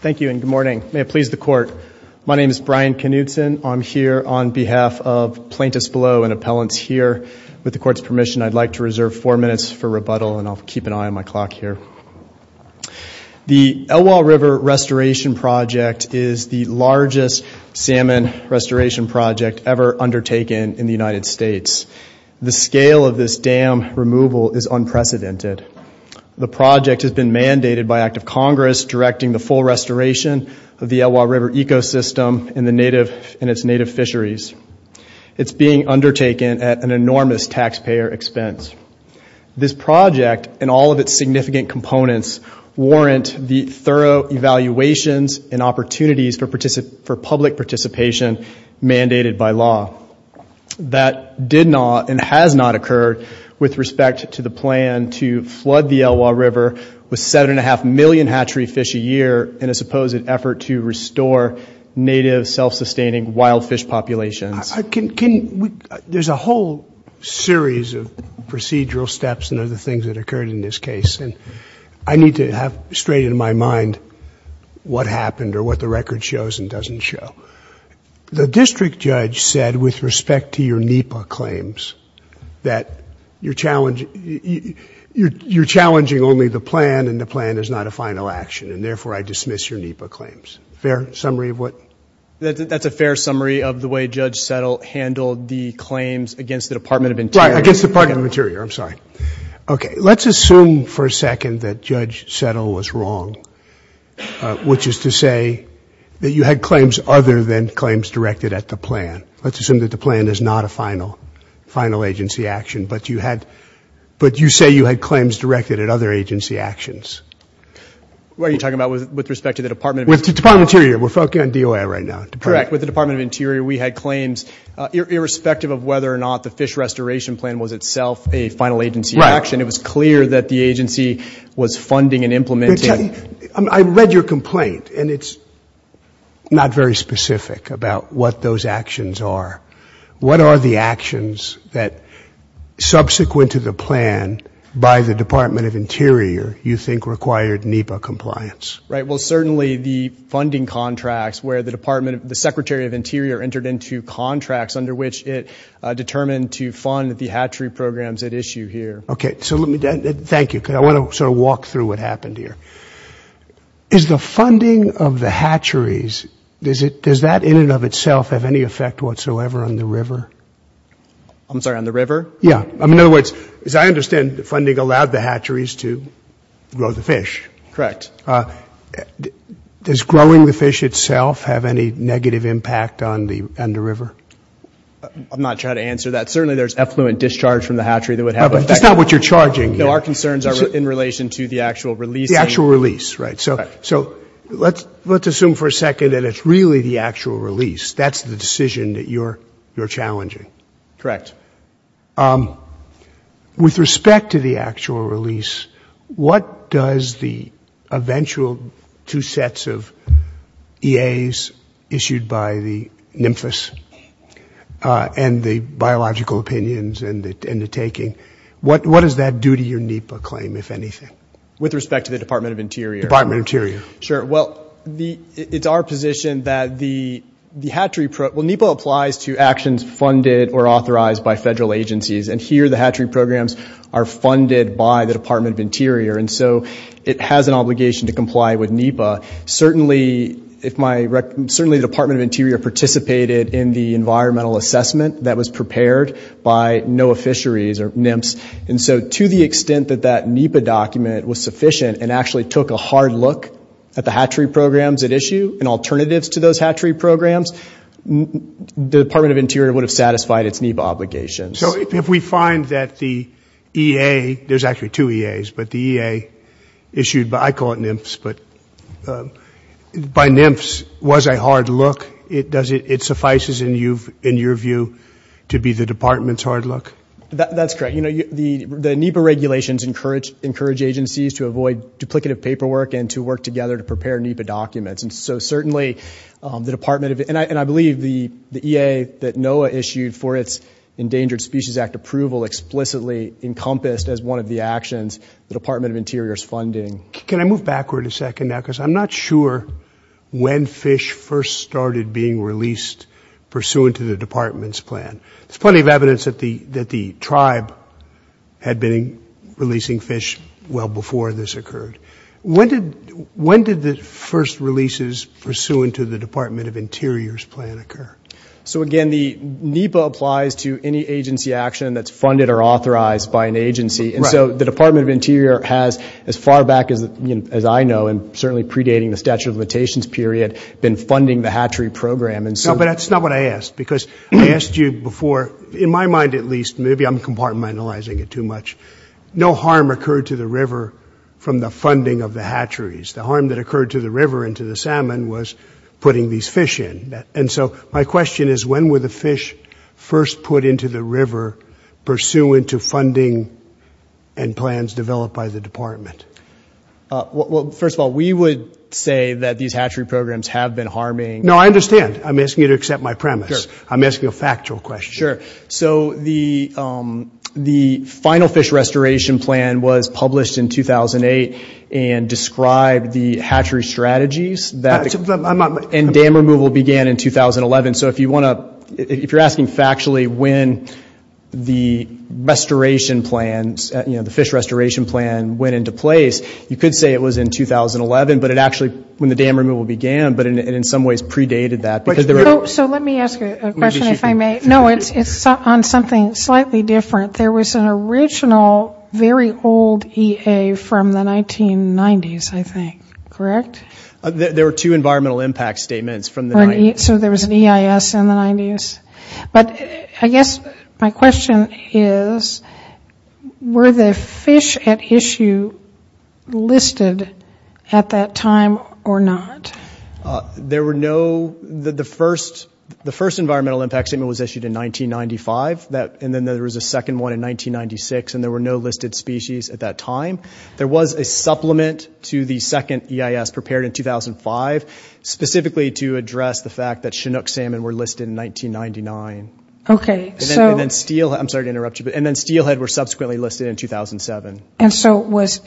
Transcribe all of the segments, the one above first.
Thank you and good morning. May it please the court, my name is Brian Knudson. I'm here on behalf of plaintiffs below and appellants here. With the court's permission, I'd like to reserve four minutes for rebuttal and I'll keep an eye on my clock here. The Elwha River restoration project is the largest salmon restoration project ever undertaken in the United States. The scale of this dam removal is unprecedented. The project has been mandated by active Congress directing the full restoration of the Elwha River ecosystem and its native fisheries. It's being undertaken at an enormous taxpayer expense. This project and all of its significant components warrant the thorough evaluations and opportunities for public participation mandated by law. That did not and has not occurred with respect to the plan to flood the Elwha River with seven and a half million hatchery fish a year in a supposed effort to restore native self-sustaining wild fish populations. There's a whole series of procedural steps and other things that occurred in this case and I need to have straight in my mind what happened or what the district judge said with respect to your NEPA claims that you're challenging only the plan and the plan is not a final action and therefore I dismiss your NEPA claims. Fair summary of what? That's a fair summary of the way Judge Settle handled the claims against the Department of Interior. Right, against the Department of Interior, I'm sorry. Okay, let's assume for a Let's assume that the plan is not a final agency action, but you had, but you say you had claims directed at other agency actions. What are you talking about with respect to the Department of Interior? With the Department of Interior, we're focusing on DOI right now. Correct, with the Department of Interior we had claims irrespective of whether or not the fish restoration plan was itself a final agency action. It was clear that the agency was funding and implementing. I read your complaint and it's not very specific about what those actions are. What are the actions that subsequent to the plan by the Department of Interior you think required NEPA compliance? Right, well certainly the funding contracts where the Department of, the Secretary of Interior entered into contracts under which it determined to fund the hatchery programs at issue here. Okay, so let me, thank you, because I want to sort of walk through what happened here. Is the funding of the hatcheries, does that in and of itself have any effect whatsoever on the river? I'm sorry, on the river? Yeah, in other words, as I understand, the funding allowed the hatcheries to grow the fish. Correct. Does growing the fish itself have any negative impact on the river? I'm not sure how to answer that. Certainly there's effluent discharge from the hatchery that would That's not what you're charging here. No, our concerns are in relation to the actual release. The actual release, right. So let's assume for a second that it's really the actual release. That's the decision that you're challenging. Correct. With respect to the actual release, what does the eventual two sets of EAs issued by the NMFIS and the biological opinions and the taking, what does that do to your NEPA claim, if anything? With respect to the Department of Interior? Department of Interior. Sure, well, it's our position that the hatchery, well, NEPA applies to actions funded or authorized by federal agencies, and here the hatchery programs are funded by the Department of Interior, and so it has an obligation to comply with NEPA. Certainly the Department of Interior participated in the environmental assessment that was prepared by NOAA Fisheries, or NEMPS, and so to the extent that that NEPA document was sufficient and actually took a hard look at the hatchery programs at issue and alternatives to those hatchery programs, the Department of Interior would have satisfied its NEPA obligations. So if we find that the EA, there's actually two EAs, but the EA issued by, I call it NEMPS, but by NEMPS was a hard look, does it suffice in your view to be the Department's hard look? That's correct. The NEPA regulations encourage agencies to avoid duplicative paperwork and to work together to prepare NEPA documents, and so certainly the Department of, and I believe the EA that NOAA issued for its Endangered Species Act approval explicitly encompassed as one of the actions the Department of Interior's funding. Can I move backward a second now, because I'm not sure when fish first started being released pursuant to the Department's plan. There's plenty of evidence that the tribe had been releasing fish well before this So again, the NEPA applies to any agency action that's funded or authorized by an agency, and so the Department of Interior has, as far back as I know, and certainly predating the statute of limitations period, been funding the hatchery program. No, but that's not what I asked, because I asked you before, in my mind at least, maybe I'm compartmentalizing it too much, no harm occurred to the river from the funding of the hatcheries. The harm that occurred to the river and to the salmon was putting these fish in. And so my question is, when were the fish first put into the river pursuant to funding and plans developed by the Department? Well, first of all, we would say that these hatchery programs have been harming... No, I understand. I'm asking you to accept my premise. I'm asking a factual question. Sure. So the final fish restoration plan was published in 2008 and described the hatchery strategies that... And dam removal began in 2011. So if you want to, if you're asking factually when the restoration plans, the fish restoration plan went into place, you could say it was in 2011, but it actually, when the dam removal began, but in some ways predated that. So let me ask a question, if I may. No, it's on something slightly different. There was an original, very old EA from the 1990s, I think. Correct? There were two environmental impact statements from the 90s. So there was an EIS in the 90s. But I guess my question is, were the fish at issue listed at that time or not? There were no... The first environmental impact statement was issued in 1995, and then there was a second one in 1996, and there were no listed species at that time. There was a supplement to the second EIS prepared in 2005, specifically to address the fact that Chinook salmon were listed in 1999. Okay, so... And then steelhead... I'm sorry to interrupt you. And then steelhead were subsequently listed in 2007. And so was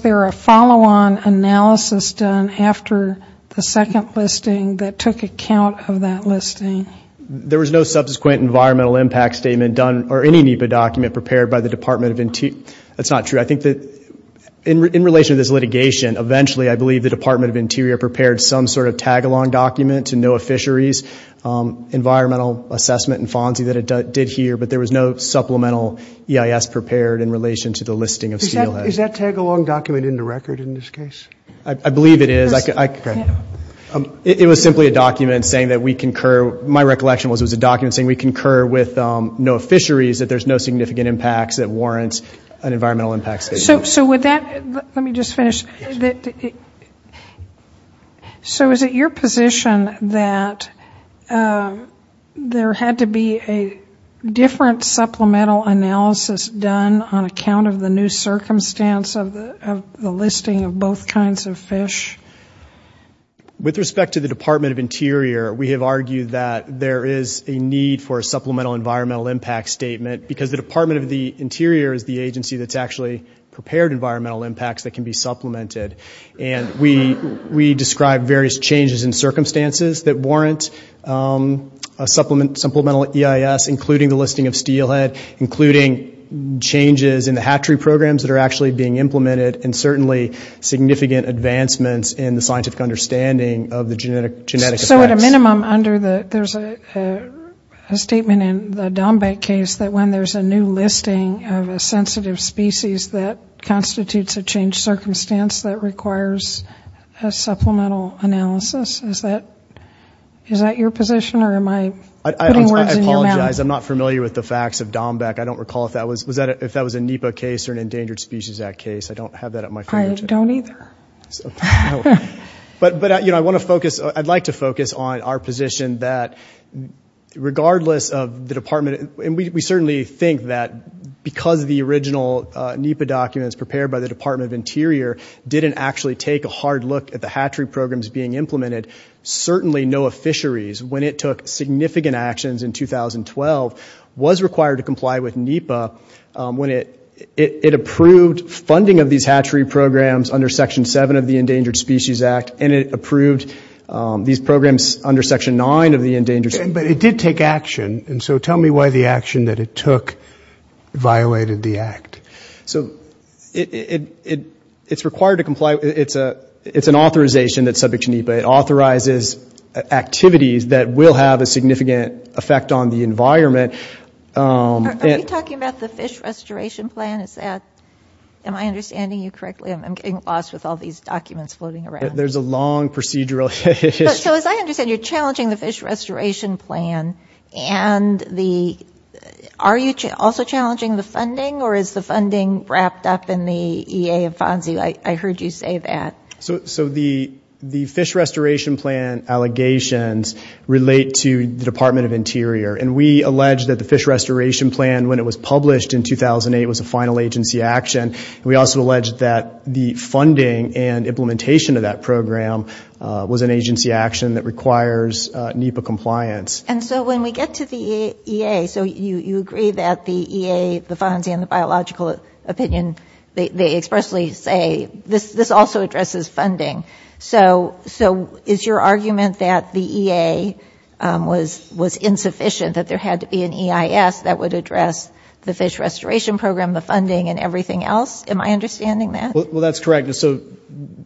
there a follow-on analysis done after the second listing that took account of that listing? There was no subsequent environmental impact statement done, or any NEPA document prepared by the Department of... That's not true. I think that in relation to this litigation, eventually, I believe the Department of Interior prepared some sort of tag-along document to NOAA Fisheries environmental assessment and FONSI that it did here. But there was no supplemental EIS prepared in relation to the listing of steelhead. Is that tag-along document in the record in this case? I believe it is. It was simply a document saying that we concur... ...an environmental impact statement. So would that... Let me just finish. So is it your position that there had to be a different supplemental analysis done on account of the new circumstance of the listing of both kinds of fish? With respect to the Department of Interior, we have argued that there is a need for a supplemental environmental impact statement, because the Department of the Interior is the agency that's actually prepared environmental impacts that can be supplemented. And we describe various changes in circumstances that warrant a supplemental EIS, including the listing of steelhead, including changes in the hatchery programs that are actually being implemented, and certainly significant advancements in the scientific understanding of the genetic effects. But at a minimum, there's a statement in the Dombek case that when there's a new listing of a sensitive species that constitutes a changed circumstance that requires a supplemental analysis. Is that your position, or am I putting words in your mouth? I apologize. I'm not familiar with the facts of Dombek. I don't recall if that was a NEPA case or an Endangered Species Act case. I don't have that at my fingertips. I don't either. But I want to focus, I'd like to focus on our position that regardless of the Department, and we certainly think that because the original NEPA documents prepared by the Department of Interior didn't actually take a hard look at the hatchery programs being implemented, certainly NOAA Fisheries, when it took significant actions in 2012, was required to comply with NEPA when it approved funding of these hatchery programs under Section 7 of the Endangered Species Act, and it approved these programs under Section 9 of the Endangered Species Act. But it did take action, and so tell me why the action that it took violated the act. So it's required to comply, it's an authorization that's subject to NEPA. It authorizes activities that will have a significant effect on the environment. Are we talking about the Fish Restoration Plan? Am I understanding you correctly? I'm getting lost with all these documents floating around. There's a long procedural issue. So as I understand, you're challenging the Fish Restoration Plan, and are you also challenging the funding, or is the funding wrapped up in the EA and FONSI? I heard you say that. So the Fish Restoration Plan allegations relate to the Department of Interior, and we allege that the Fish Restoration Plan, when it was published in 2008, was a final agency action. We also allege that the funding and implementation of that program was an agency action that requires NEPA compliance. And so when we get to the EA, so you agree that the EA, the FONSI, and the biological opinion, they expressly say this also addresses funding. So is your argument that the EA was insufficient, that there had to be an EIS that would address the Fish Restoration Program, the funding, and everything else? Am I understanding that? Well, that's correct. So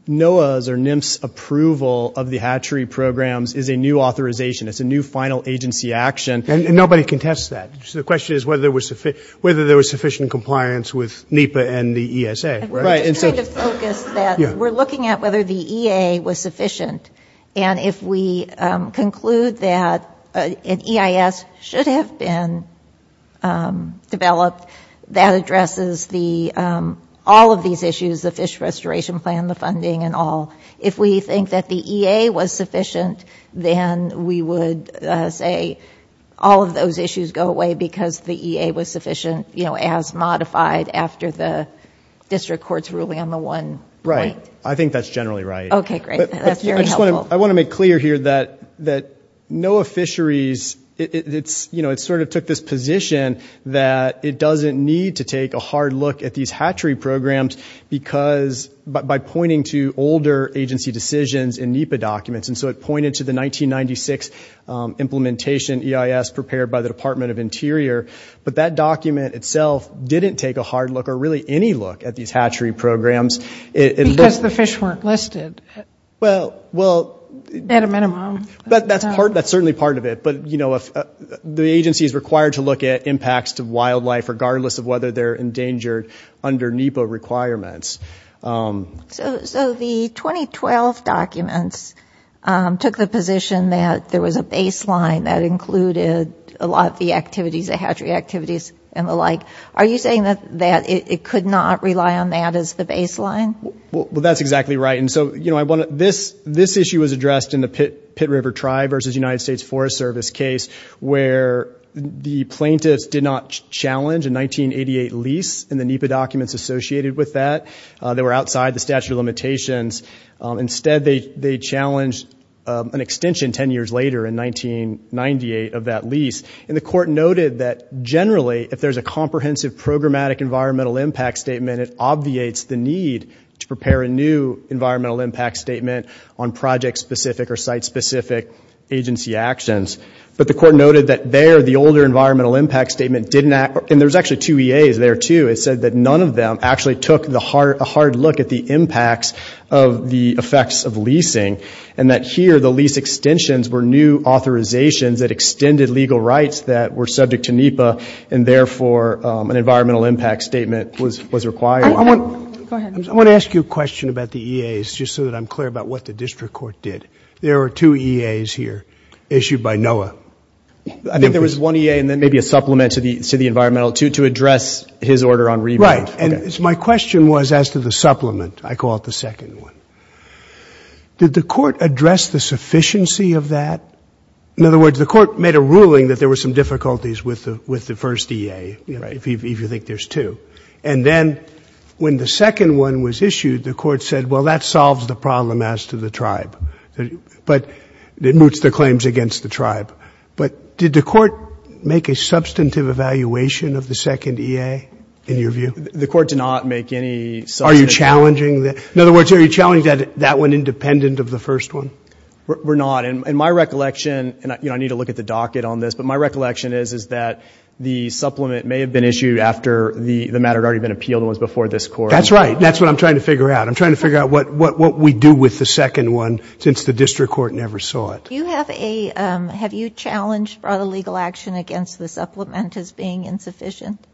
NOAA's or NIMS' approval of the hatchery programs is a new authorization. It's a new final agency action. And nobody contests that. So the question is whether there was sufficient compliance with NEPA and the ESA. We're just trying to focus that. We're looking at whether the EA was sufficient. And if we conclude that an EIS should have been developed, that addresses all of these issues, the Fish Restoration Plan, the funding, and all. If we think that the EA was sufficient, then we would say all of those issues go away because the EA was sufficient, as modified after the district court's ruling on the one point. Right. I think that's generally right. Okay, great. That's very helpful. I want to make clear here that NOAA Fisheries, it sort of took this position that it doesn't need to take a hard look at these hatchery programs by pointing to older agency decisions in NEPA documents. And so it pointed to the 1996 implementation EIS prepared by the Department of Interior. But that document itself didn't take a hard look or really any look at these hatchery programs. Because the fish weren't listed at a minimum. That's certainly part of it. But the agency is required to look at impacts to wildlife regardless of whether they're endangered under NEPA requirements. So the 2012 documents took the position that there was a baseline that included a lot of the activities, the hatchery activities and the like. Are you saying that it could not rely on that as the baseline? Well, that's exactly right. And so this issue was addressed in the Pitt River Tribe versus United States Forest Service case where the plaintiffs did not challenge a 1988 lease in the NEPA documents associated with that. They were outside the statute of limitations. Instead, they challenged an extension 10 years later in 1998 of that lease. And the court noted that generally if there's a comprehensive programmatic environmental impact statement it obviates the need to prepare a new environmental impact statement on project-specific or site-specific agency actions. But the court noted that there the older environmental impact statement didn't act and there's actually two EAs there too. It said that none of them actually took a hard look at the impacts of the effects of leasing and that here the lease extensions were new authorizations that extended legal rights that were subject to NEPA and therefore an environmental impact statement was required. I want to ask you a question about the EAs just so that I'm clear about what the district court did. There are two EAs here issued by NOAA. I think there was one EA and then maybe a supplement to the environmental to address his order on rebate. Right. And my question was as to the supplement. I call it the second one. Did the court address the sufficiency of that? In other words, the court made a ruling that there were some difficulties with the first EA if you think there's two. And then when the second one was issued, the court said, well, that solves the problem as to the tribe. But it moots the claims against the tribe. But did the court make a substantive evaluation of the second EA in your view? The court did not make any substantive evaluation. Are you challenging that? In other words, are you challenging that that went independent of the first one? We're not. And my recollection, and I need to look at the docket on this, but my recollection is that the supplement may have been issued after the matter had already been appealed and was before this court. That's right. That's what I'm trying to figure out. I'm trying to figure out what we do with the second one since the district court never saw it. Do you have a – have you challenged brought a legal action against the supplement as being insufficient?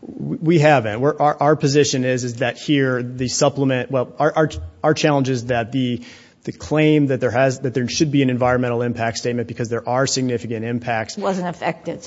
We haven't. Our position is that here the supplement – well, our challenge is that the claim that there has – that there should be an environmental impact statement because there are significant impacts isn't mooted. Wasn't affected.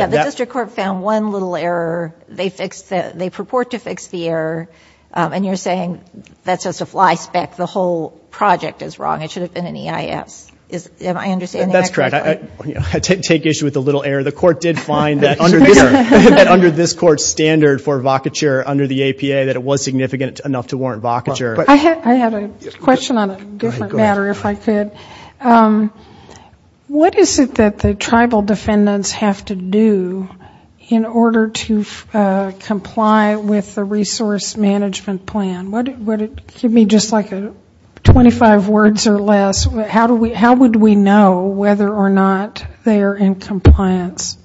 Yeah, the district court found one little error. They fixed the – they purport to fix the error. And you're saying that's just a fly spec. The whole project is wrong. It should have been an EIS. Am I understanding that correctly? That's correct. I take issue with the little error. The court did find that under this court's standard for vocature under the APA that it was significant enough to warrant vocature. I had a question on a different matter, if I could. What is it that the tribal defendants have to do in order to comply with the resource management plan? Give me just like 25 words or less. How would we know whether or not they are in compliance?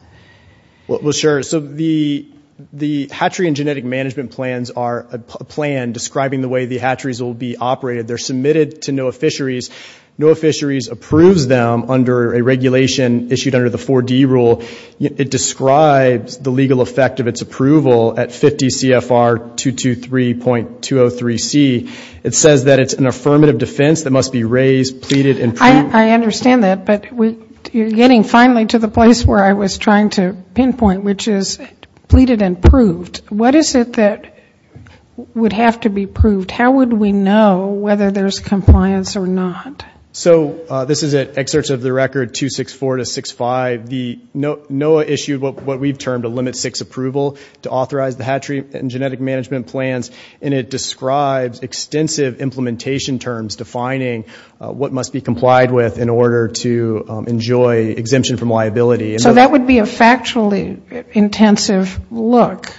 Well, sure. So the hatchery and genetic management plans are a plan describing the way the hatcheries will be operated. They're submitted to NOAA Fisheries. NOAA Fisheries approves them under a regulation issued under the 4D rule. It describes the legal effect of its approval at 50 CFR 223.203C. It says that it's an affirmative defense that must be raised, pleaded and proved. I understand that. But you're getting finally to the place where I was trying to pinpoint, which is pleaded and proved. What is it that would have to be proved? How would we know whether there's compliance or not? So this is at excerpts of the record 264 to 65. NOAA issued what we've termed a limit six approval to authorize the hatchery and genetic management plans. And it describes extensive implementation terms defining what must be complied with in order to enjoy exemption from liability. So that would be a factually intensive look.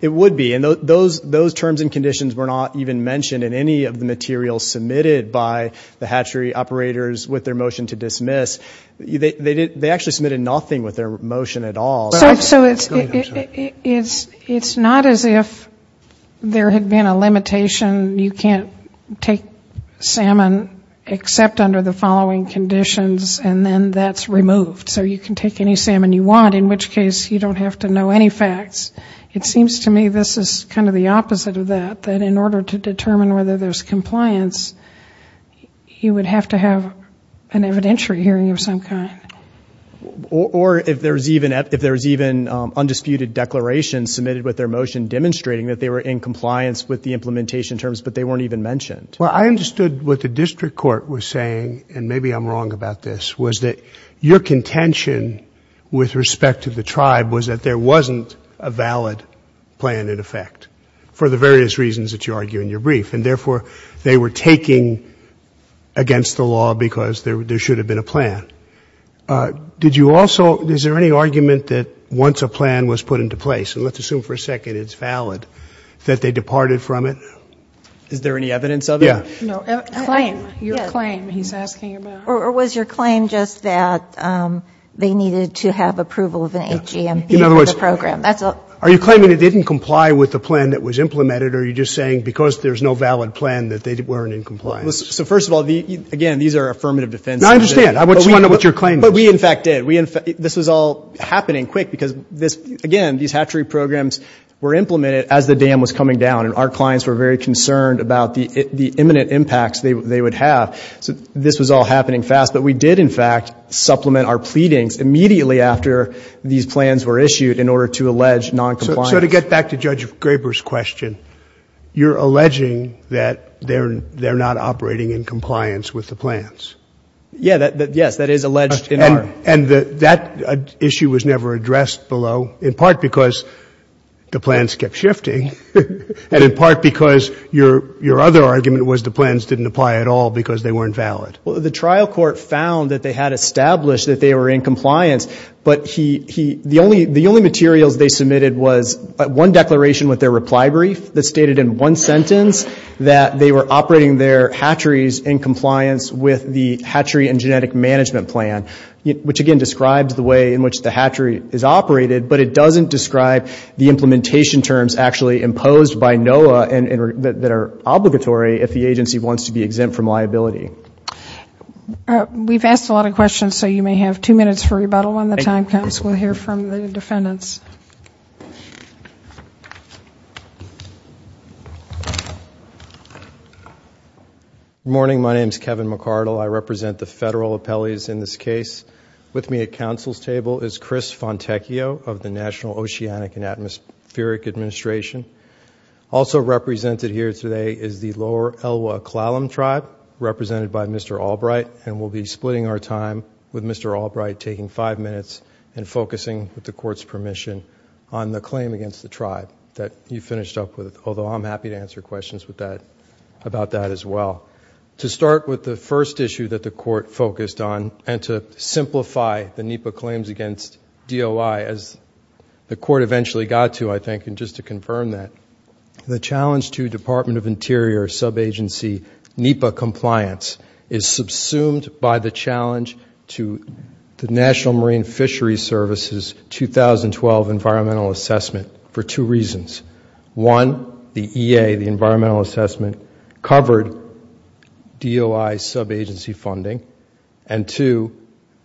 It would be. And those terms and conditions were not even mentioned in any of the materials submitted by the hatchery operators with their motion to dismiss. They actually submitted nothing with their motion at all. So it's not as if there had been a limitation. You can't take salmon except under the following conditions and then that's removed. So you can take any salmon you want in which case you don't have to know any facts. It seems to me this is kind of the opposite of that, that in order to determine whether there's compliance you would have to have an evidentiary hearing of some kind. Or if there's even undisputed declarations submitted with their motion demonstrating that they were in compliance with the implementation terms but they weren't even mentioned. Well, I understood what the district court was saying and maybe I'm wrong about this, was that your contention with respect to the tribe was that there wasn't a valid plan in effect for the various reasons that you argue in your brief. And therefore they were taking against the law because there should have been a plan. Did you also, is there any argument that once a plan was put into place, and let's assume for a second it's valid, that they departed from it? Is there any evidence of it? No. Claim, your claim, he's asking about. Or was your claim just that they needed to have approval of an HGMB for the program? Are you claiming it didn't comply with the plan that was implemented or are you just saying because there's no valid plan that they weren't in compliance? So first of all, again, these are affirmative defense. No, I understand. I just want to know what your claim is. But we in fact did. This was all happening quick because, again, these hatchery programs were implemented as the dam was coming down and our clients were very concerned about the imminent impacts they would have. So this was all happening fast. But we did in fact supplement our pleadings immediately after these plans were issued in order to allege noncompliance. So to get back to Judge Graber's question, you're alleging that they're not operating in compliance with the plans? Yes, that is alleged in our... And that issue was never addressed below in part because the plans kept shifting and in part because your other argument was the plans didn't apply at all because they weren't valid. Well, the trial court found that they had established that they were in compliance, but the only materials they submitted was one declaration with their reply brief that stated in one sentence that they were operating their hatcheries in compliance with the hatchery and genetic management plan, which again describes the way in which the hatchery is operated, but it doesn't describe the implementation terms actually imposed by NOAA that are obligatory if the agency wants to be exempt from liability. We've asked a lot of questions, so you may have two minutes for rebuttal when the time comes. We'll hear from the defendants. Good morning. My name is Kevin McArdle. I represent the federal appellees in this case. With me at counsel's table is Chris Fontecchio of the National Oceanic and Atmospheric Administration. Also represented here today is the Lower Elwha-Klallam Tribe represented by Mr. Albright, and we'll be splitting our time with Mr. Albright, taking five minutes and focusing, with the Court's permission, on the claim against the tribe that you finished up with, although I'm happy to answer questions about that as well. To start with the first issue that the Court focused on and to simplify the NEPA claims against DOI as the Court eventually got to, I think, and just to confirm that, the challenge to Department of Interior sub-agency NEPA compliance is subsumed by the challenge to the National Marine Fisheries Service's 2012 environmental assessment for two reasons. One, the EA, the environmental assessment, covered DOI sub-agency funding, and two,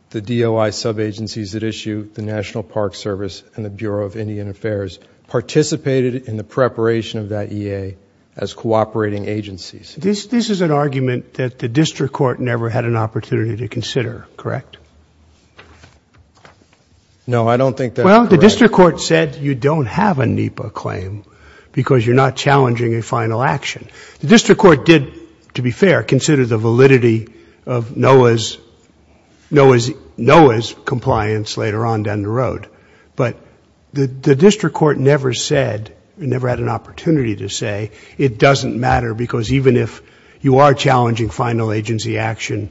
the DOI sub-agencies that issue the National Park Service and the Bureau of Indian Affairs participated in the preparation of that EA as cooperating agencies. This is an argument that the District Court never had an opportunity to consider, correct? No, I don't think that's correct. Well, the District Court said you don't have a NEPA claim because you're not challenging a final action. The District Court did, to be fair, consider the validity of NOAA's compliance later on down the road, but the District Court never said, never had an opportunity to say, it doesn't matter because even if you are challenging final agency action,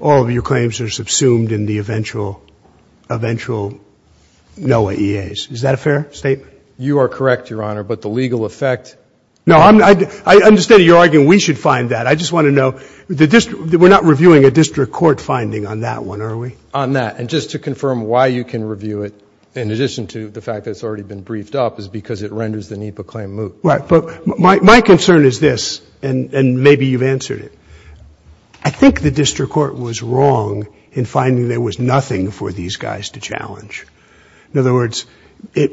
all of your claims are subsumed in the eventual NOAA EAs. Is that a fair statement? You are correct, Your Honor, but the legal effect... No, I understand your argument. We should find that. We're not reviewing a District Court finding on that one, are we? On that, and just to confirm why you can review it in addition to the fact that it's already been briefed up is because it renders the NEPA claim moot. Right, but my concern is this, and maybe you've answered it. I think the District Court was wrong in finding there was nothing for these guys to challenge. In other words,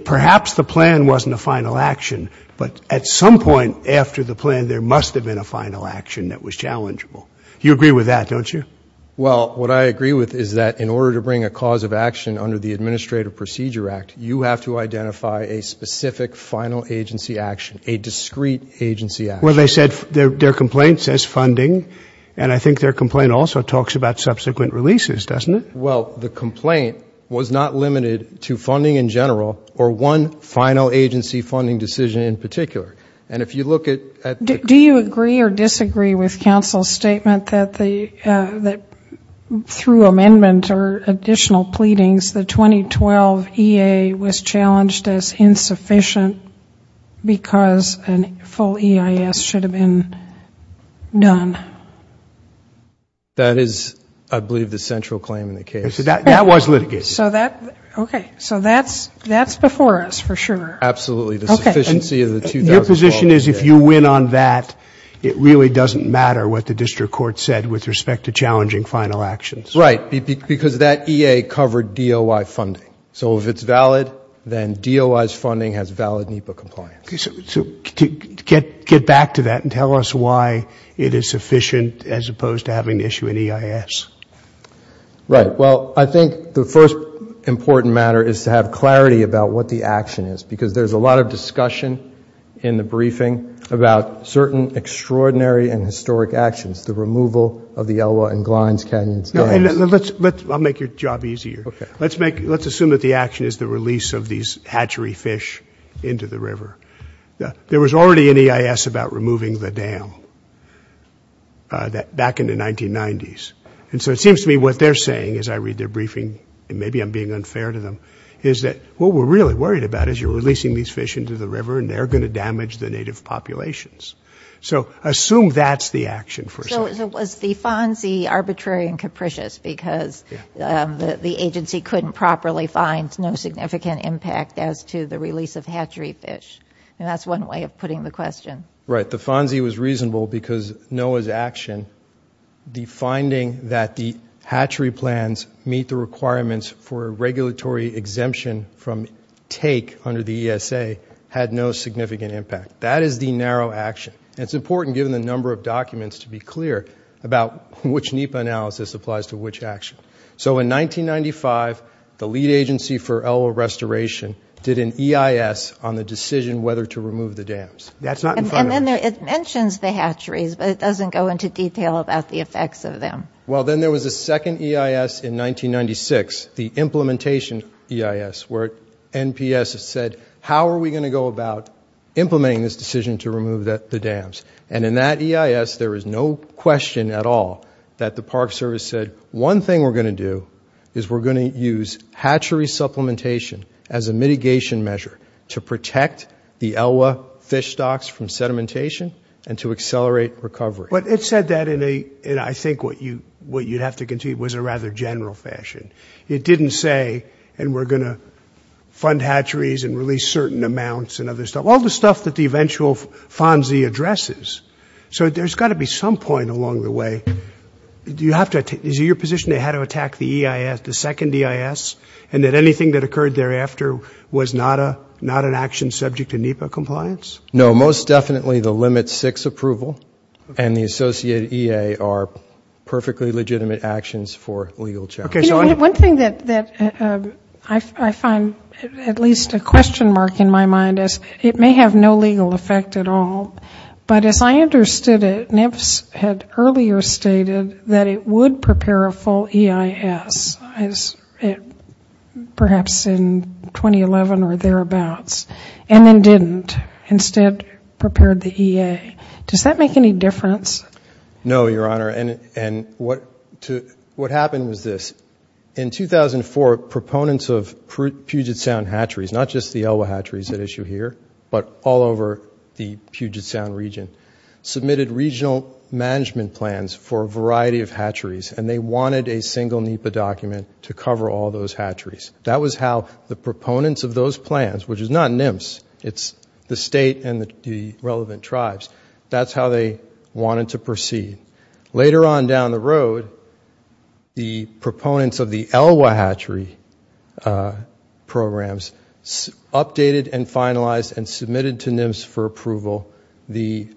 perhaps the plan wasn't a final action, but at some point after the plan, there must have been a final action that was challengeable. You agree with that, don't you? Well, what I agree with is that in order to bring a cause of action under the Administrative Procedure Act, you have to identify a specific final agency action, a discrete agency action. Well, their complaint says funding, and I think their complaint also talks about subsequent releases, doesn't it? Well, the complaint was not limited to funding in general or one final agency funding decision in particular, and if you look at... Do you agree or disagree with counsel's statement that through amendment or additional pleadings the 2012 EA was challenged as insufficient because a full EIS should have been done? That is I believe the central claim in the case. That was litigated. Okay, so that's before us for sure. Absolutely. Your position is if you win on that, it really doesn't matter what the District Court said with respect to challenging final actions. Right, because that EA covered DOI funding, so if it's valid then DOI's funding has valid NEPA compliance. Get back to that and tell us why it is sufficient as opposed to having to issue an EIS. Right, well, I think the first important matter is to have clarity about what the action is because there's a lot of discussion in the briefing about certain extraordinary and historic actions, the removal of the Elwha and Glines Canyon dams. I'll make your job easier. Let's assume that the action is the release of these hatchery fish into the river. There was already an EIS about removing the dam back in the 1990s. And so it seems to me what they're saying as I read their briefing, and maybe I'm being unfair to them, is that what we're really worried about is you're releasing these fish into the river and they're going to damage the native populations. So assume that's the action. So was the FONSI arbitrary and capricious because the agency couldn't properly find no significant impact as to the release of hatchery fish? And that's one way of putting the question. Right, the FONSI was reasonable because NOAA's action, the finding that the hatchery plans meet the requirements for a regulatory exemption from take under the ESA had no significant impact. That is the narrow action. And it's important given the number of documents to be clear about which NEPA analysis applies to which action. So in 1995, the Lead Agency for Elwha Restoration did an EIS on the decision whether to remove the dams. And then it mentions the hatcheries but it doesn't go into detail about the effects of them. Well then there was a second EIS in 1996, the Implementation EIS where NPS said how are we going to go about implementing this decision to remove the dams? And in that EIS there is no question at all that the Park Service said one thing we're going to do is we're going to use hatchery supplementation as a mitigation measure to protect the Elwha fish stocks from sedimentation and to accelerate recovery. But it said that in a, I think what you'd have to concede was a rather general fashion. It didn't say and we're going to fund hatcheries and release certain amounts and other stuff. All the stuff that the eventual FONSI addresses. So there's got to be some point along the way do you have to, is it your position that they had to attack the EIS, the second EIS and that anything that occurred thereafter was not a, not an action subject to NEPA compliance? No, most definitely the limit 6 approval and the associated EA are perfectly legitimate actions for legal challenge. One thing that I find at least a question mark in my mind is it may have no legal effect at all, but as I understood it NEPS had earlier stated that it would prepare a full EIS as it perhaps in 2011 or thereabouts and then didn't instead prepared the EA. Does that make any difference? No, Your Honor, and what happened was this in 2004 proponents of Puget Sound hatcheries not just the Elwha hatcheries that issue here but all over the Puget Sound region submitted regional management plans for a variety of hatcheries and they wanted a single NEPA document to cover all those hatcheries. That was how the proponents of those plans, which is not NEMS, it's the state and the relevant tribes that's how they wanted to proceed. Later on down the road the proponents of the Elwha hatchery programs updated and finalized and submitted to NEMS for approval the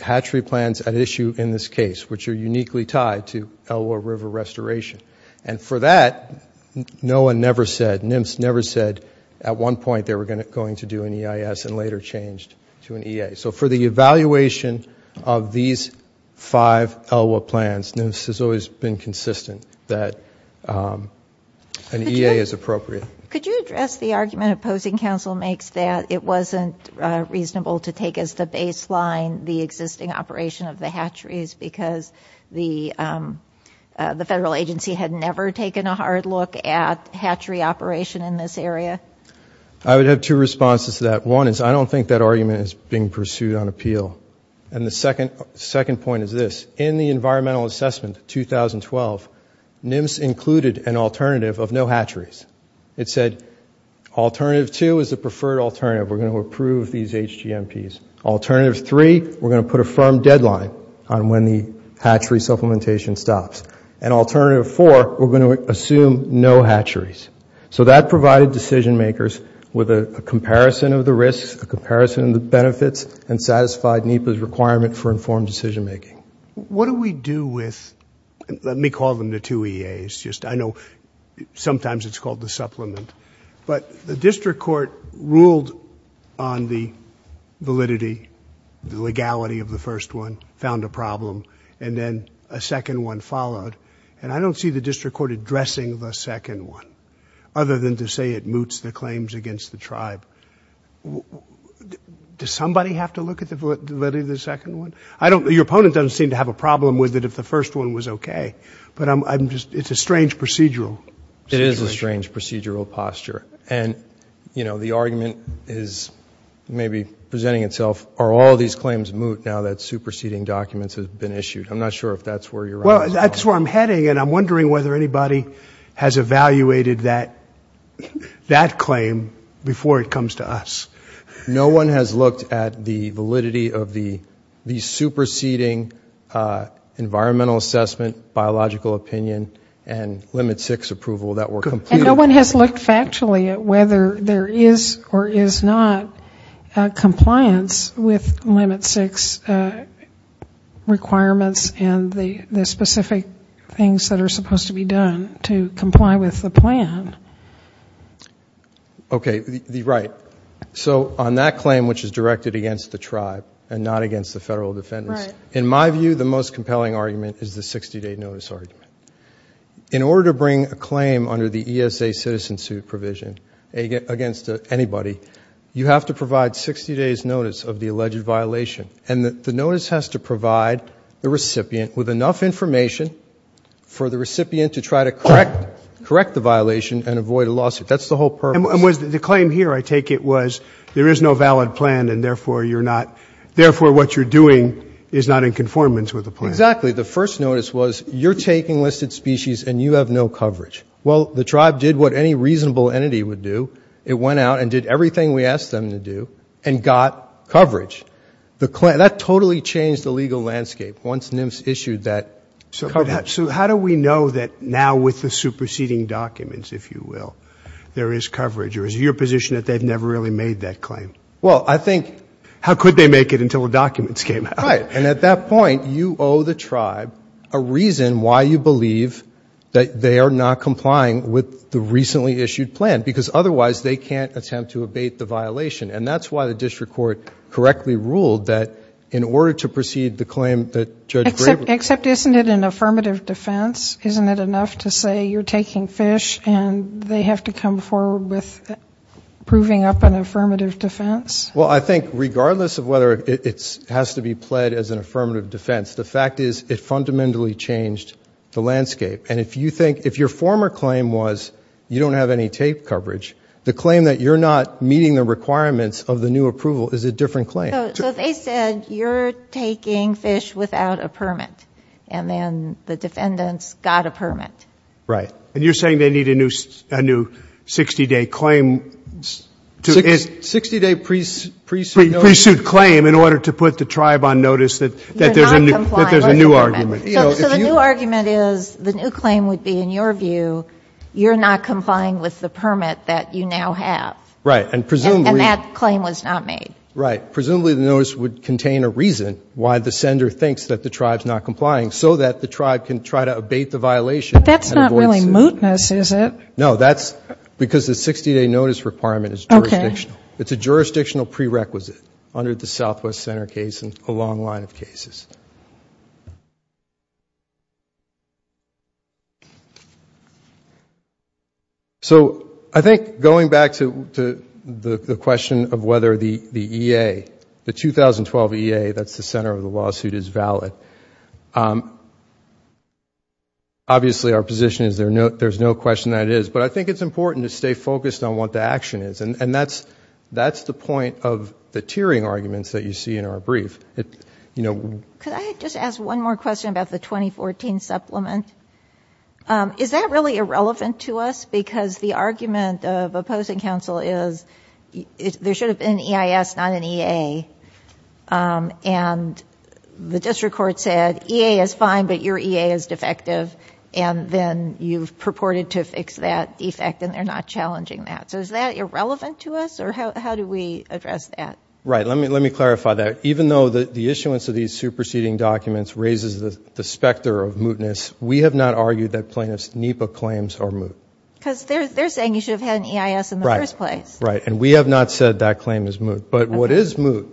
hatchery plans at issue in this case which are uniquely tied to Elwha River restoration and for that NOAA never said, NEMS never said at one point they were going to do an EIS and later changed to an EA. So for the evaluation of these five Elwha plans, NEMS has always been consistent that an EA is appropriate. Could you address the argument Opposing Council makes that it wasn't reasonable to take as the baseline the existing operation of the hatcheries because the federal agency had never taken a hard look at hatchery operation in this area? I would have two responses to that. One is I don't think that argument is being pursued on appeal and the second point is this. In the environmental assessment 2012, NEMS included an alternative of no hatcheries. It said alternative two is the preferred alternative. We're going to approve these HGMPs. Alternative three, we're going to put a firm deadline on when the hatchery supplementation stops. And alternative four, we're going to assume no hatcheries. So that provided decision makers with a comparison of the risks, a comparison of the risks, and a comparison of the what we're going to do for informed decision making. What do we do with, let me call them the two EAs. I know sometimes it's called the supplement. But the district court ruled on the validity, the legality of the first one, found a problem, and then a second one followed. And I don't see the district court addressing the second one other than to say it moots the claims against the tribe. Does somebody have to look at the validity of the second one? Your opponent doesn't seem to have a problem with it if the first one was okay. But I'm just, it's a strange procedural. It is a strange procedural posture. And the argument is maybe presenting itself, are all these claims moot now that superseding documents have been issued? I'm not sure if that's where you're at. Well, that's where I'm heading, and I'm wondering whether anybody has looked at that claim before it comes to us. No one has looked at the validity of the superseding environmental assessment, biological opinion, and Limit 6 approval that were completed. And no one has looked factually at whether there is or is not compliance with Limit 6 requirements and the specific things that are supposed to be done to comply with the plan. Okay, right. So on that claim, which is directed against the tribe and not against the federal defendants, in my view, the most compelling argument is the 60-day notice argument. In order to bring a claim under the ESA citizen suit provision against anybody, you have to provide 60 days notice of the alleged violation. And the notice has to provide the recipient with enough information for the recipient to try to correct the violation and avoid a lawsuit. That's the whole purpose. And the claim here, I take it, was there is no valid plan, and therefore what you're doing is not in conformance with the plan. Exactly. The first notice was, you're taking listed species and you have no coverage. Well, the tribe did what any reasonable entity would do. It went out and did everything we asked them to do and got coverage. That totally changed the legal landscape once NIMS issued that coverage. So how do we know that now with the superseding documents, if you will, there is coverage? Or is it your position that they've never really made that claim? Well, I think... How could they make it until the documents came out? Right. And at that point, you owe the tribe a reason why you believe that they are not complying with the recently issued plan because otherwise they can't attempt to abate the violation. And that's why the district court correctly ruled that in order to proceed the claim that Judge Graber... Except isn't it an affirmative defense? Isn't it enough to say you're taking fish and they have to come forward with proving up an affirmative defense? Well, I think regardless of whether it has to be pled as an affirmative defense, the fact is it fundamentally changed the landscape. And if you think, if your former claim was, you don't have any tape coverage, the claim that you're not meeting the requirements of the new approval is a different claim. So they said you're taking fish without a permit. And then the defendants got a permit. Right. And you're saying they need a new 60-day claim to... 60-day pre-suit... Pre-suit claim in order to put the tribe on notice that there's a new argument. So the new argument is the new claim would be, in your view, you're not complying with the permit that you now have. Right. And that claim was not made. Right. Presumably the notice would contain a reason why the sender thinks that the tribe's not complying so that the tribe can try to abate the violation. But that's not really mootness, is it? No, that's because the 60-day notice requirement is jurisdictional. It's a jurisdictional prerequisite under the Southwest Center case and a long line of cases. So I think going back to the question of whether the EA, the 2012 EA, that's the center of the lawsuit, is valid. Obviously our position is there's no question that it is. But I think it's important to stay focused on what the action is. And that's the point of the tiering arguments that you see in our brief. Could I just ask one more question about the 2014 supplement? Is that really irrelevant to us because the argument of opposing counsel is there should have been an EIS not an EA and the district court said EA is fine but your EA is defective and then you've purported to fix that defect and they're not challenging that. So is that irrelevant to us or how do we address that? Right. Let me clarify that. Even though the issuance of these superseding documents raises the specter of mootness, we have not argued that because they're saying you should have had an EIS in the first place. Right. And we have not said that claim is moot. But what is moot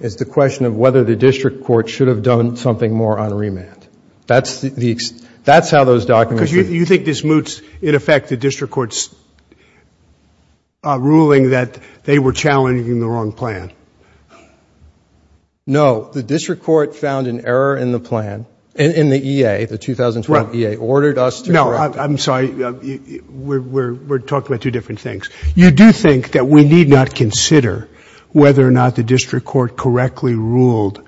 is the question of whether the district court should have done something more on remand. That's how those documents... Because you think this moots in effect the district court's ruling that they were challenging the wrong plan. No. The district court found an error in the plan, in the EA, the 2012 EA, ordered us to correct it. I'm sorry. We're talking about two different things. You do think that we need not consider whether or not the district court correctly ruled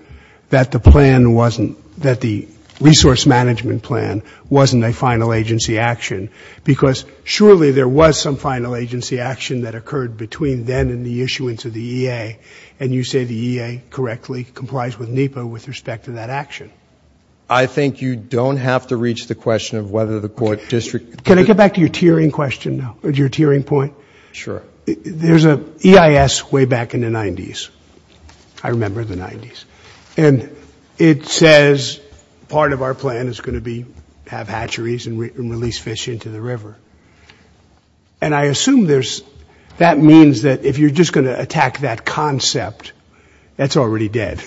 that the plan wasn't, that the resource management plan wasn't a final agency action because surely there was some final agency action that occurred between then and the issuance of the EA and you say the EA correctly complies with NEPA with respect to that action. I think you don't have to reach the question of whether the court district... Can I get back to your tiering question now, your tiering point? Sure. There's an EIS way back in the 90s. I remember the 90s. And it says part of our plan is going to be have hatcheries and release fish into the river. And I assume there's, that means that if you're just going to attack that concept that's already dead.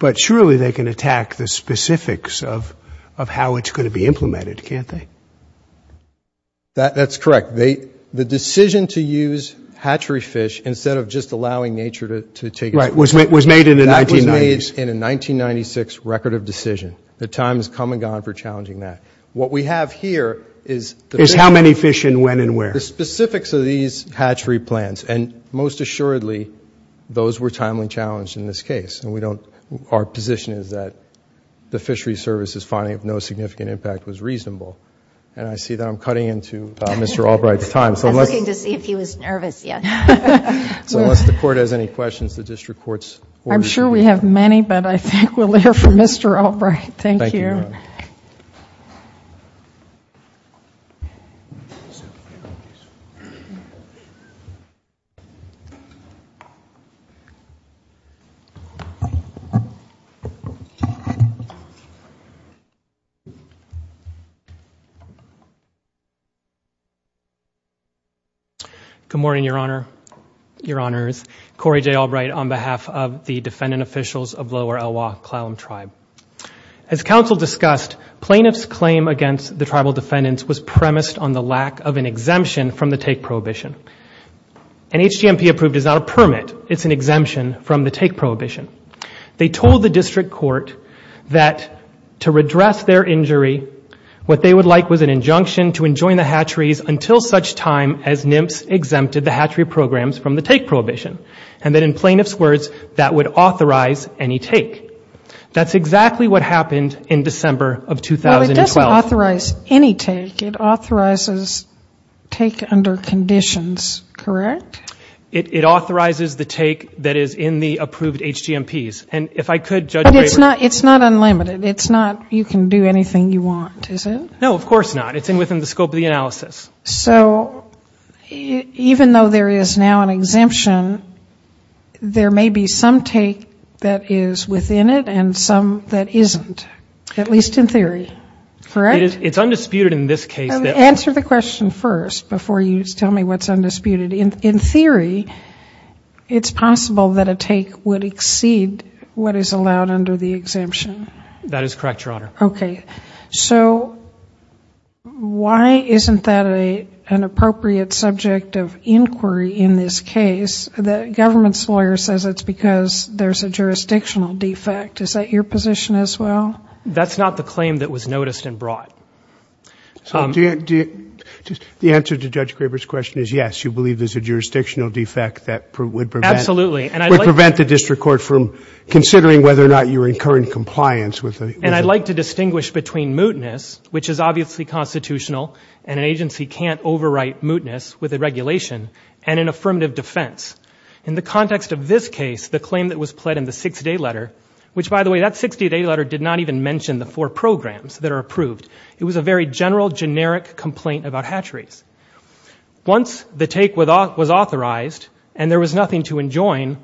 But surely they can attack the specifics of how it's going to be implemented, can't they? That's correct. The decision to use hatchery fish instead of just allowing nature to take... Right. Was made in the 1990s. That was made in a 1996 record of decision. The time has come and gone for challenging that. What we have here is... Is how many fish and when and where. The specifics of these hatchery plans and most assuredly those were timely challenged in this case. And we don't, our position is that the fishery service's finding of no significant impact was reasonable. And I see that I'm cutting into Mr. Albright's time. I was looking to see if he was nervous yet. So unless the court has any questions, the district court's... I'm sure we have many, but I think we'll hear from Mr. Albright. Thank you. Thank you. Good morning, Your Honor. Your Honors. Corey J. Albright on behalf of the defendant officials of Lower Elwha-Klallam Tribe. As counsel discussed, plaintiff's claim against the tribal defendants was premised on the lack of an exemption from the take prohibition. An HGMP approved is not a permit. It's an exemption from the take prohibition. They told the district court that to redress their injury, what they would like was an injunction to enjoin the hatcheries until such time as NIMPS exempted the hatchery programs from the take prohibition. And then in plaintiff's words, that would authorize any take. That's exactly what happened in December of 2012. Well, it doesn't authorize any take. It authorizes take under conditions, correct? It authorizes the take that is in the approved HGMPs. And if I could, Judge Braber... But it's not unlimited. It's not you can do anything you want, is it? No, of course not. It's within the scope of the analysis. So, even though there is now an exemption, there may be some take that is within it and some that isn't, at least in theory, correct? It's undisputed in this case. Answer the question first before you tell me what's undisputed. In theory, it's possible that a take would exceed what is allowed under the exemption. That is correct, Your Honor. So, why isn't that an appropriate subject of inquiry in this case? The government's lawyer says it's because there's a jurisdictional defect. Is that your position as well? That's not the claim that was noticed and brought. So, the answer to Judge Braber's question is yes, you believe there's a jurisdictional defect that would prevent... Absolutely. ...the district court from considering whether or not you're in current compliance with... And I'd like to distinguish between mootness, which is obviously constitutional and an agency can't overwrite mootness with a regulation, and an affirmative defense. In the context of this case, the claim that was pled in the six-day letter, which, by the way, that six-day letter did not even mention the four programs that are approved. It was a very general, generic complaint about hatcheries. Once the take was authorized and there was nothing to enjoin,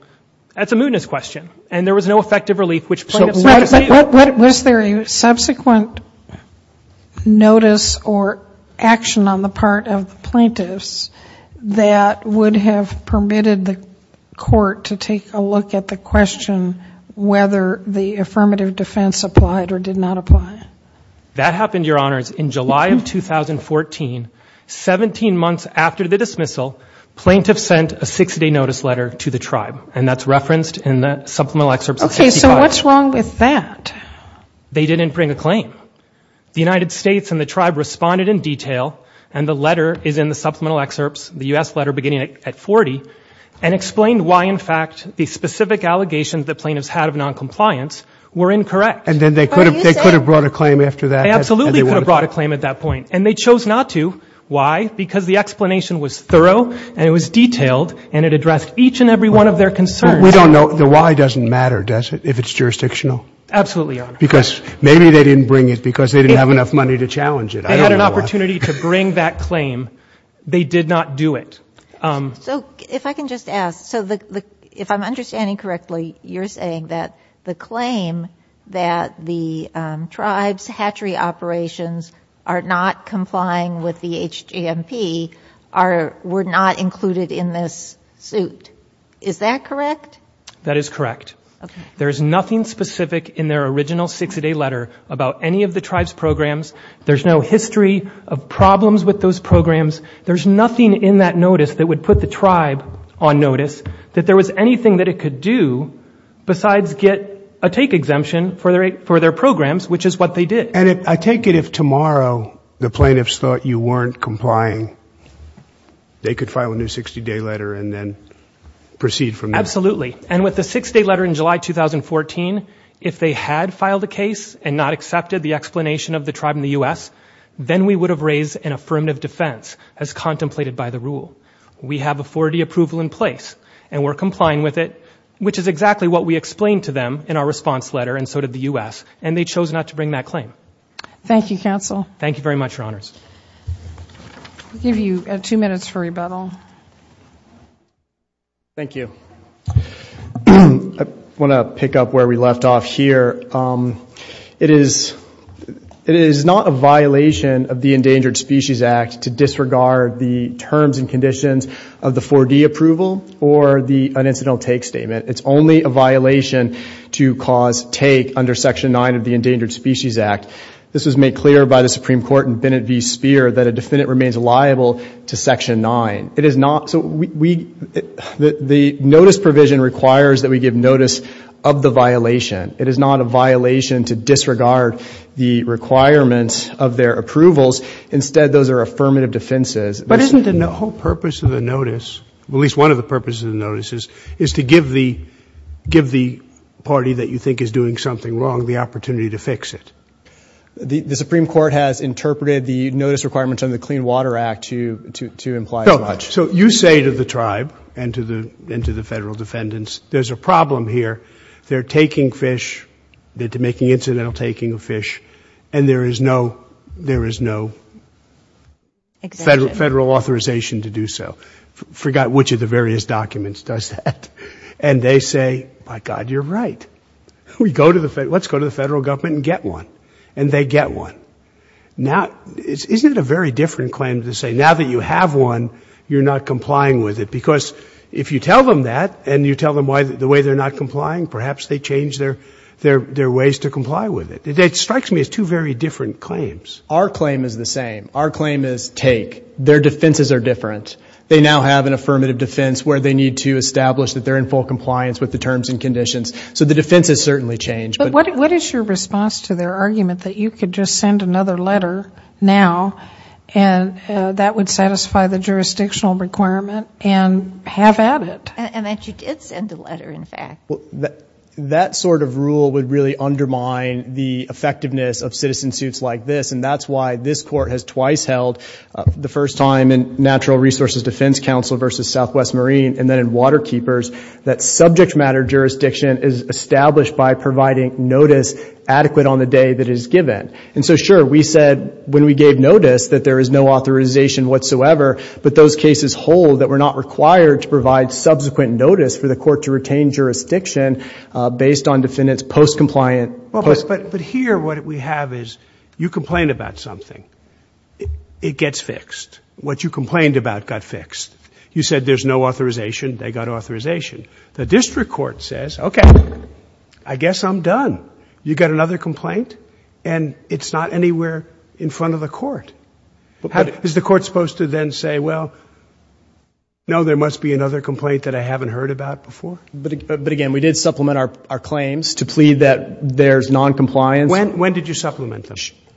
that's a mootness question, and there was no effective relief, which plaintiffs... Was there a subsequent notice or action on the part of plaintiffs that would have permitted the court to take a look at the question whether the client... That happened, Your Honors, in July of 2014, 17 months after the dismissal, plaintiffs sent a six-day notice letter to the tribe, and that's referenced in the supplemental excerpts... Okay, so what's wrong with that? They didn't bring a claim. The United States and the tribe responded in detail, and the letter is in the supplemental excerpts, the U.S. letter beginning at 40, and explained why, in fact, the specific allegations that plaintiffs had of noncompliance were incorrect. And then they could have brought a claim after that? They absolutely could have brought a claim at that point, and they chose not to. Why? Because the explanation was thorough, and it was detailed, and it addressed each and every one of their concerns. We don't know. The why doesn't matter, does it, if it's jurisdictional? Absolutely, Your Honor. Because maybe they didn't bring it because they didn't have enough money to challenge it. I don't know why. They had an opportunity to bring that claim. They did not do it. So, if I can just ask, if I'm understanding correctly, you're saying that the claim that the tribe's hatchery operations are not complying with the HGMP were not included in this suit. Is that correct? That is correct. There is nothing specific in their original 60-day letter about any of the tribe's programs. There's no history of problems with those programs. There's nothing in that notice that would put the tribe on notice that there was anything that it could do besides get a take exemption for their programs, which is what they did. And I take it if tomorrow the plaintiffs thought you weren't complying, they could file a new 60-day letter and then proceed from there. Absolutely. And with the 60-day letter in July 2014, if they had filed a case and not accepted the explanation of the tribe in the U.S., then we would have raised an affirmative defense as contemplated by the rule. We have authority approval in place and we're complying with it, which is exactly what we explained to them in our response letter and so did the U.S. And they chose not to bring that claim. Thank you, Counsel. Thank you very much, Your Honors. I'll give you two minutes for rebuttal. Thank you. I want to pick up where we left off here. It is not a violation of the Endangered Species Act to disregard the terms and conditions of the 4D approval or the unincidental take statement. It's only a violation to cause take under Section 9 of the Endangered Species Act. This was made clear by the Supreme Court in Bennett v. Speer that a defendant remains liable to Section 9. The notice provision requires that we give notice of the violation. It is not a violation to disregard the requirements of their approvals. Instead, those are affirmative defenses. But isn't the whole purpose of the notice, at least one of the purposes of the notice, is to give the party that you think is doing something wrong the opportunity to fix it? The Supreme Court has interpreted the notice requirements under the Clean Water Act to imply as much. So you say to the tribe and to the federal defendants, there's a problem here. They're taking fish. They're making incidental taking of fish. And there is no federal authorization to do so. Forgot which of the various documents does that. And they say, by God, you're right. Let's go to the federal government and get one. And they get one. Isn't it a very different claim to say, now that you have one, you're not complying with it? Because if you tell them that, and you tell them the way they're not complying, perhaps they change their ways to comply with it. It strikes me as two very different claims. Our claim is the same. Our claim is, take. Their defenses are different. They now have an affirmative defense where they need to establish that they're in full compliance with the terms and conditions. So the defense has certainly changed. But what is your response to their argument that you could just send another letter now, and that would satisfy the jurisdictional requirement, and have at it? And that you did send a letter, in fact. That sort of rule would really undermine the effectiveness of citizen suits like this. And that's why this court has twice held the first time in Natural Resources Defense Council versus Southwest Marine, and then in Water Keepers, that subject matter jurisdiction is established by providing notice adequate on the day that it is given. And so sure, we said when we gave notice that there is no authorization whatsoever, but those cases hold that we're not required to provide subsequent notice for the court to retain jurisdiction based on defendants post-compliant. But here, what we have is, you complain about something. It gets fixed. What you complained about got fixed. You said there's no authorization. They got authorization. The district court says, okay, I guess I'm done. You got another complaint, and it's not anywhere in front of the court. Is the court supposed to then say, well, no, there must be another complaint that I haven't heard about before? But again, we did supplement our claims to plead that there's noncompliance. When did you supplement them?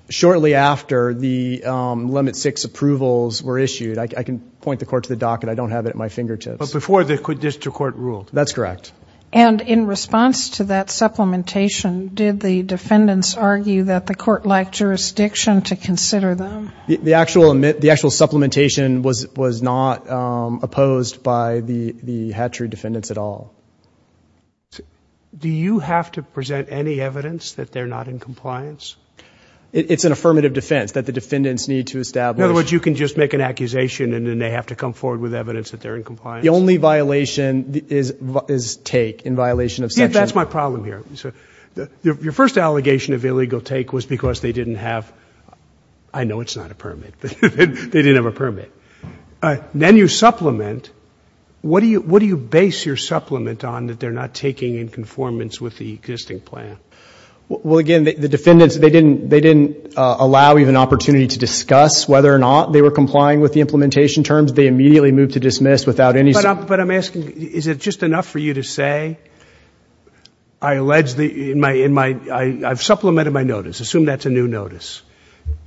Shortly after the Limit 6 approvals were issued. I can point the court to the docket. I don't have it at my fingertips. But before the district court ruled? That's correct. And in response to that supplementation, did the defendants argue that the court lacked jurisdiction to consider them? The actual supplementation was not opposed by the Hatchery defendants at all. Do you have to present any evidence that they're not in compliance? It's an affirmative defense that the defendants need to establish. In other words, you can just make an accusation, and then they have to come forward with evidence that they're in compliance? The only violation is take, in violation of section... That's my problem here. Your first allegation of illegal take was because they didn't have... I know it's not a permit, but they didn't have a permit. Then you supplement. What do you base your supplement on that they're not taking in conformance with the existing plan? Well, again, the defendants, they didn't allow even opportunity to discuss whether or not they were complying with the implementation terms. They immediately moved to dismiss without any... But I'm asking, is it just enough for you to say I allege the... I've supplemented my notice.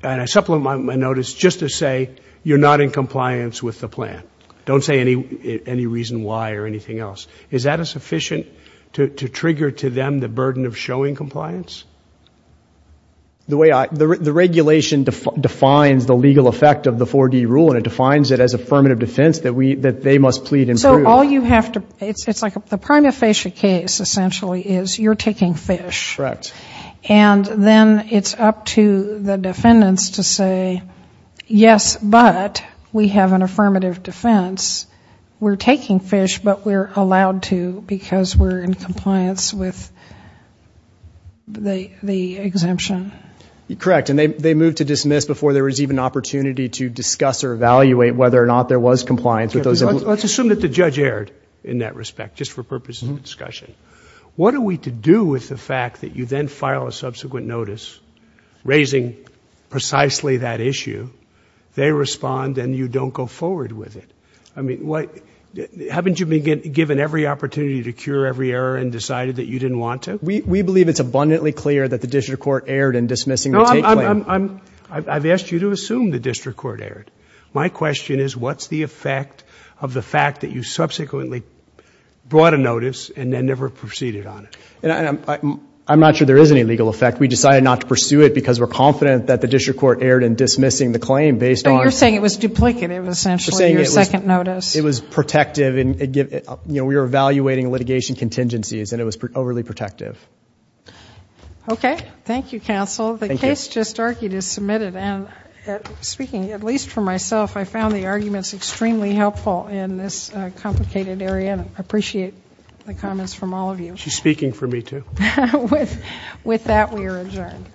And I supplement my notice just to say you're not in compliance with the plan. Don't say any reason why or anything else. Is that sufficient to trigger to them the burden of showing compliance? The way I... The regulation defines the legal effect of the 4D rule, and it defines it as affirmative defense that they must plead and prove. So all you have to... It's like the prima facie case, essentially, is you're taking fish. Correct. And then it's up to the defendants to say yes, but we have an affirmative defense. We're taking fish, but we're allowed to because we're in compliance with the exemption. Correct. And they moved to dismiss before there was even opportunity to discuss or evaluate whether or not there was compliance with those... Let's assume that the judge erred in that respect, just for purposes of discussion. What are we to do with the fact that you then file a subsequent notice raising precisely that issue? They respond and you don't go forward with it. I mean, what... Haven't you been given every opportunity to cure every error and decided that you didn't want to? We believe it's abundantly clear that the district court erred in dismissing the take plan. I've asked you to assume the district court erred. My question is what's the effect of the fact that you subsequently brought a notice and then never proceeded on it? I'm not sure there is any legal effect. We decided not to pursue it because we're confident that the district court erred in dismissing the claim based on... You're saying it was duplicative, essentially, your second notice. It was protective. We were evaluating litigation contingencies and it was overly protective. Okay. Thank you, counsel. The case just argued is submitted and, speaking at least for myself, I found the arguments extremely helpful in this the comments from all of you. She's speaking for me, too. With that, we are adjourned.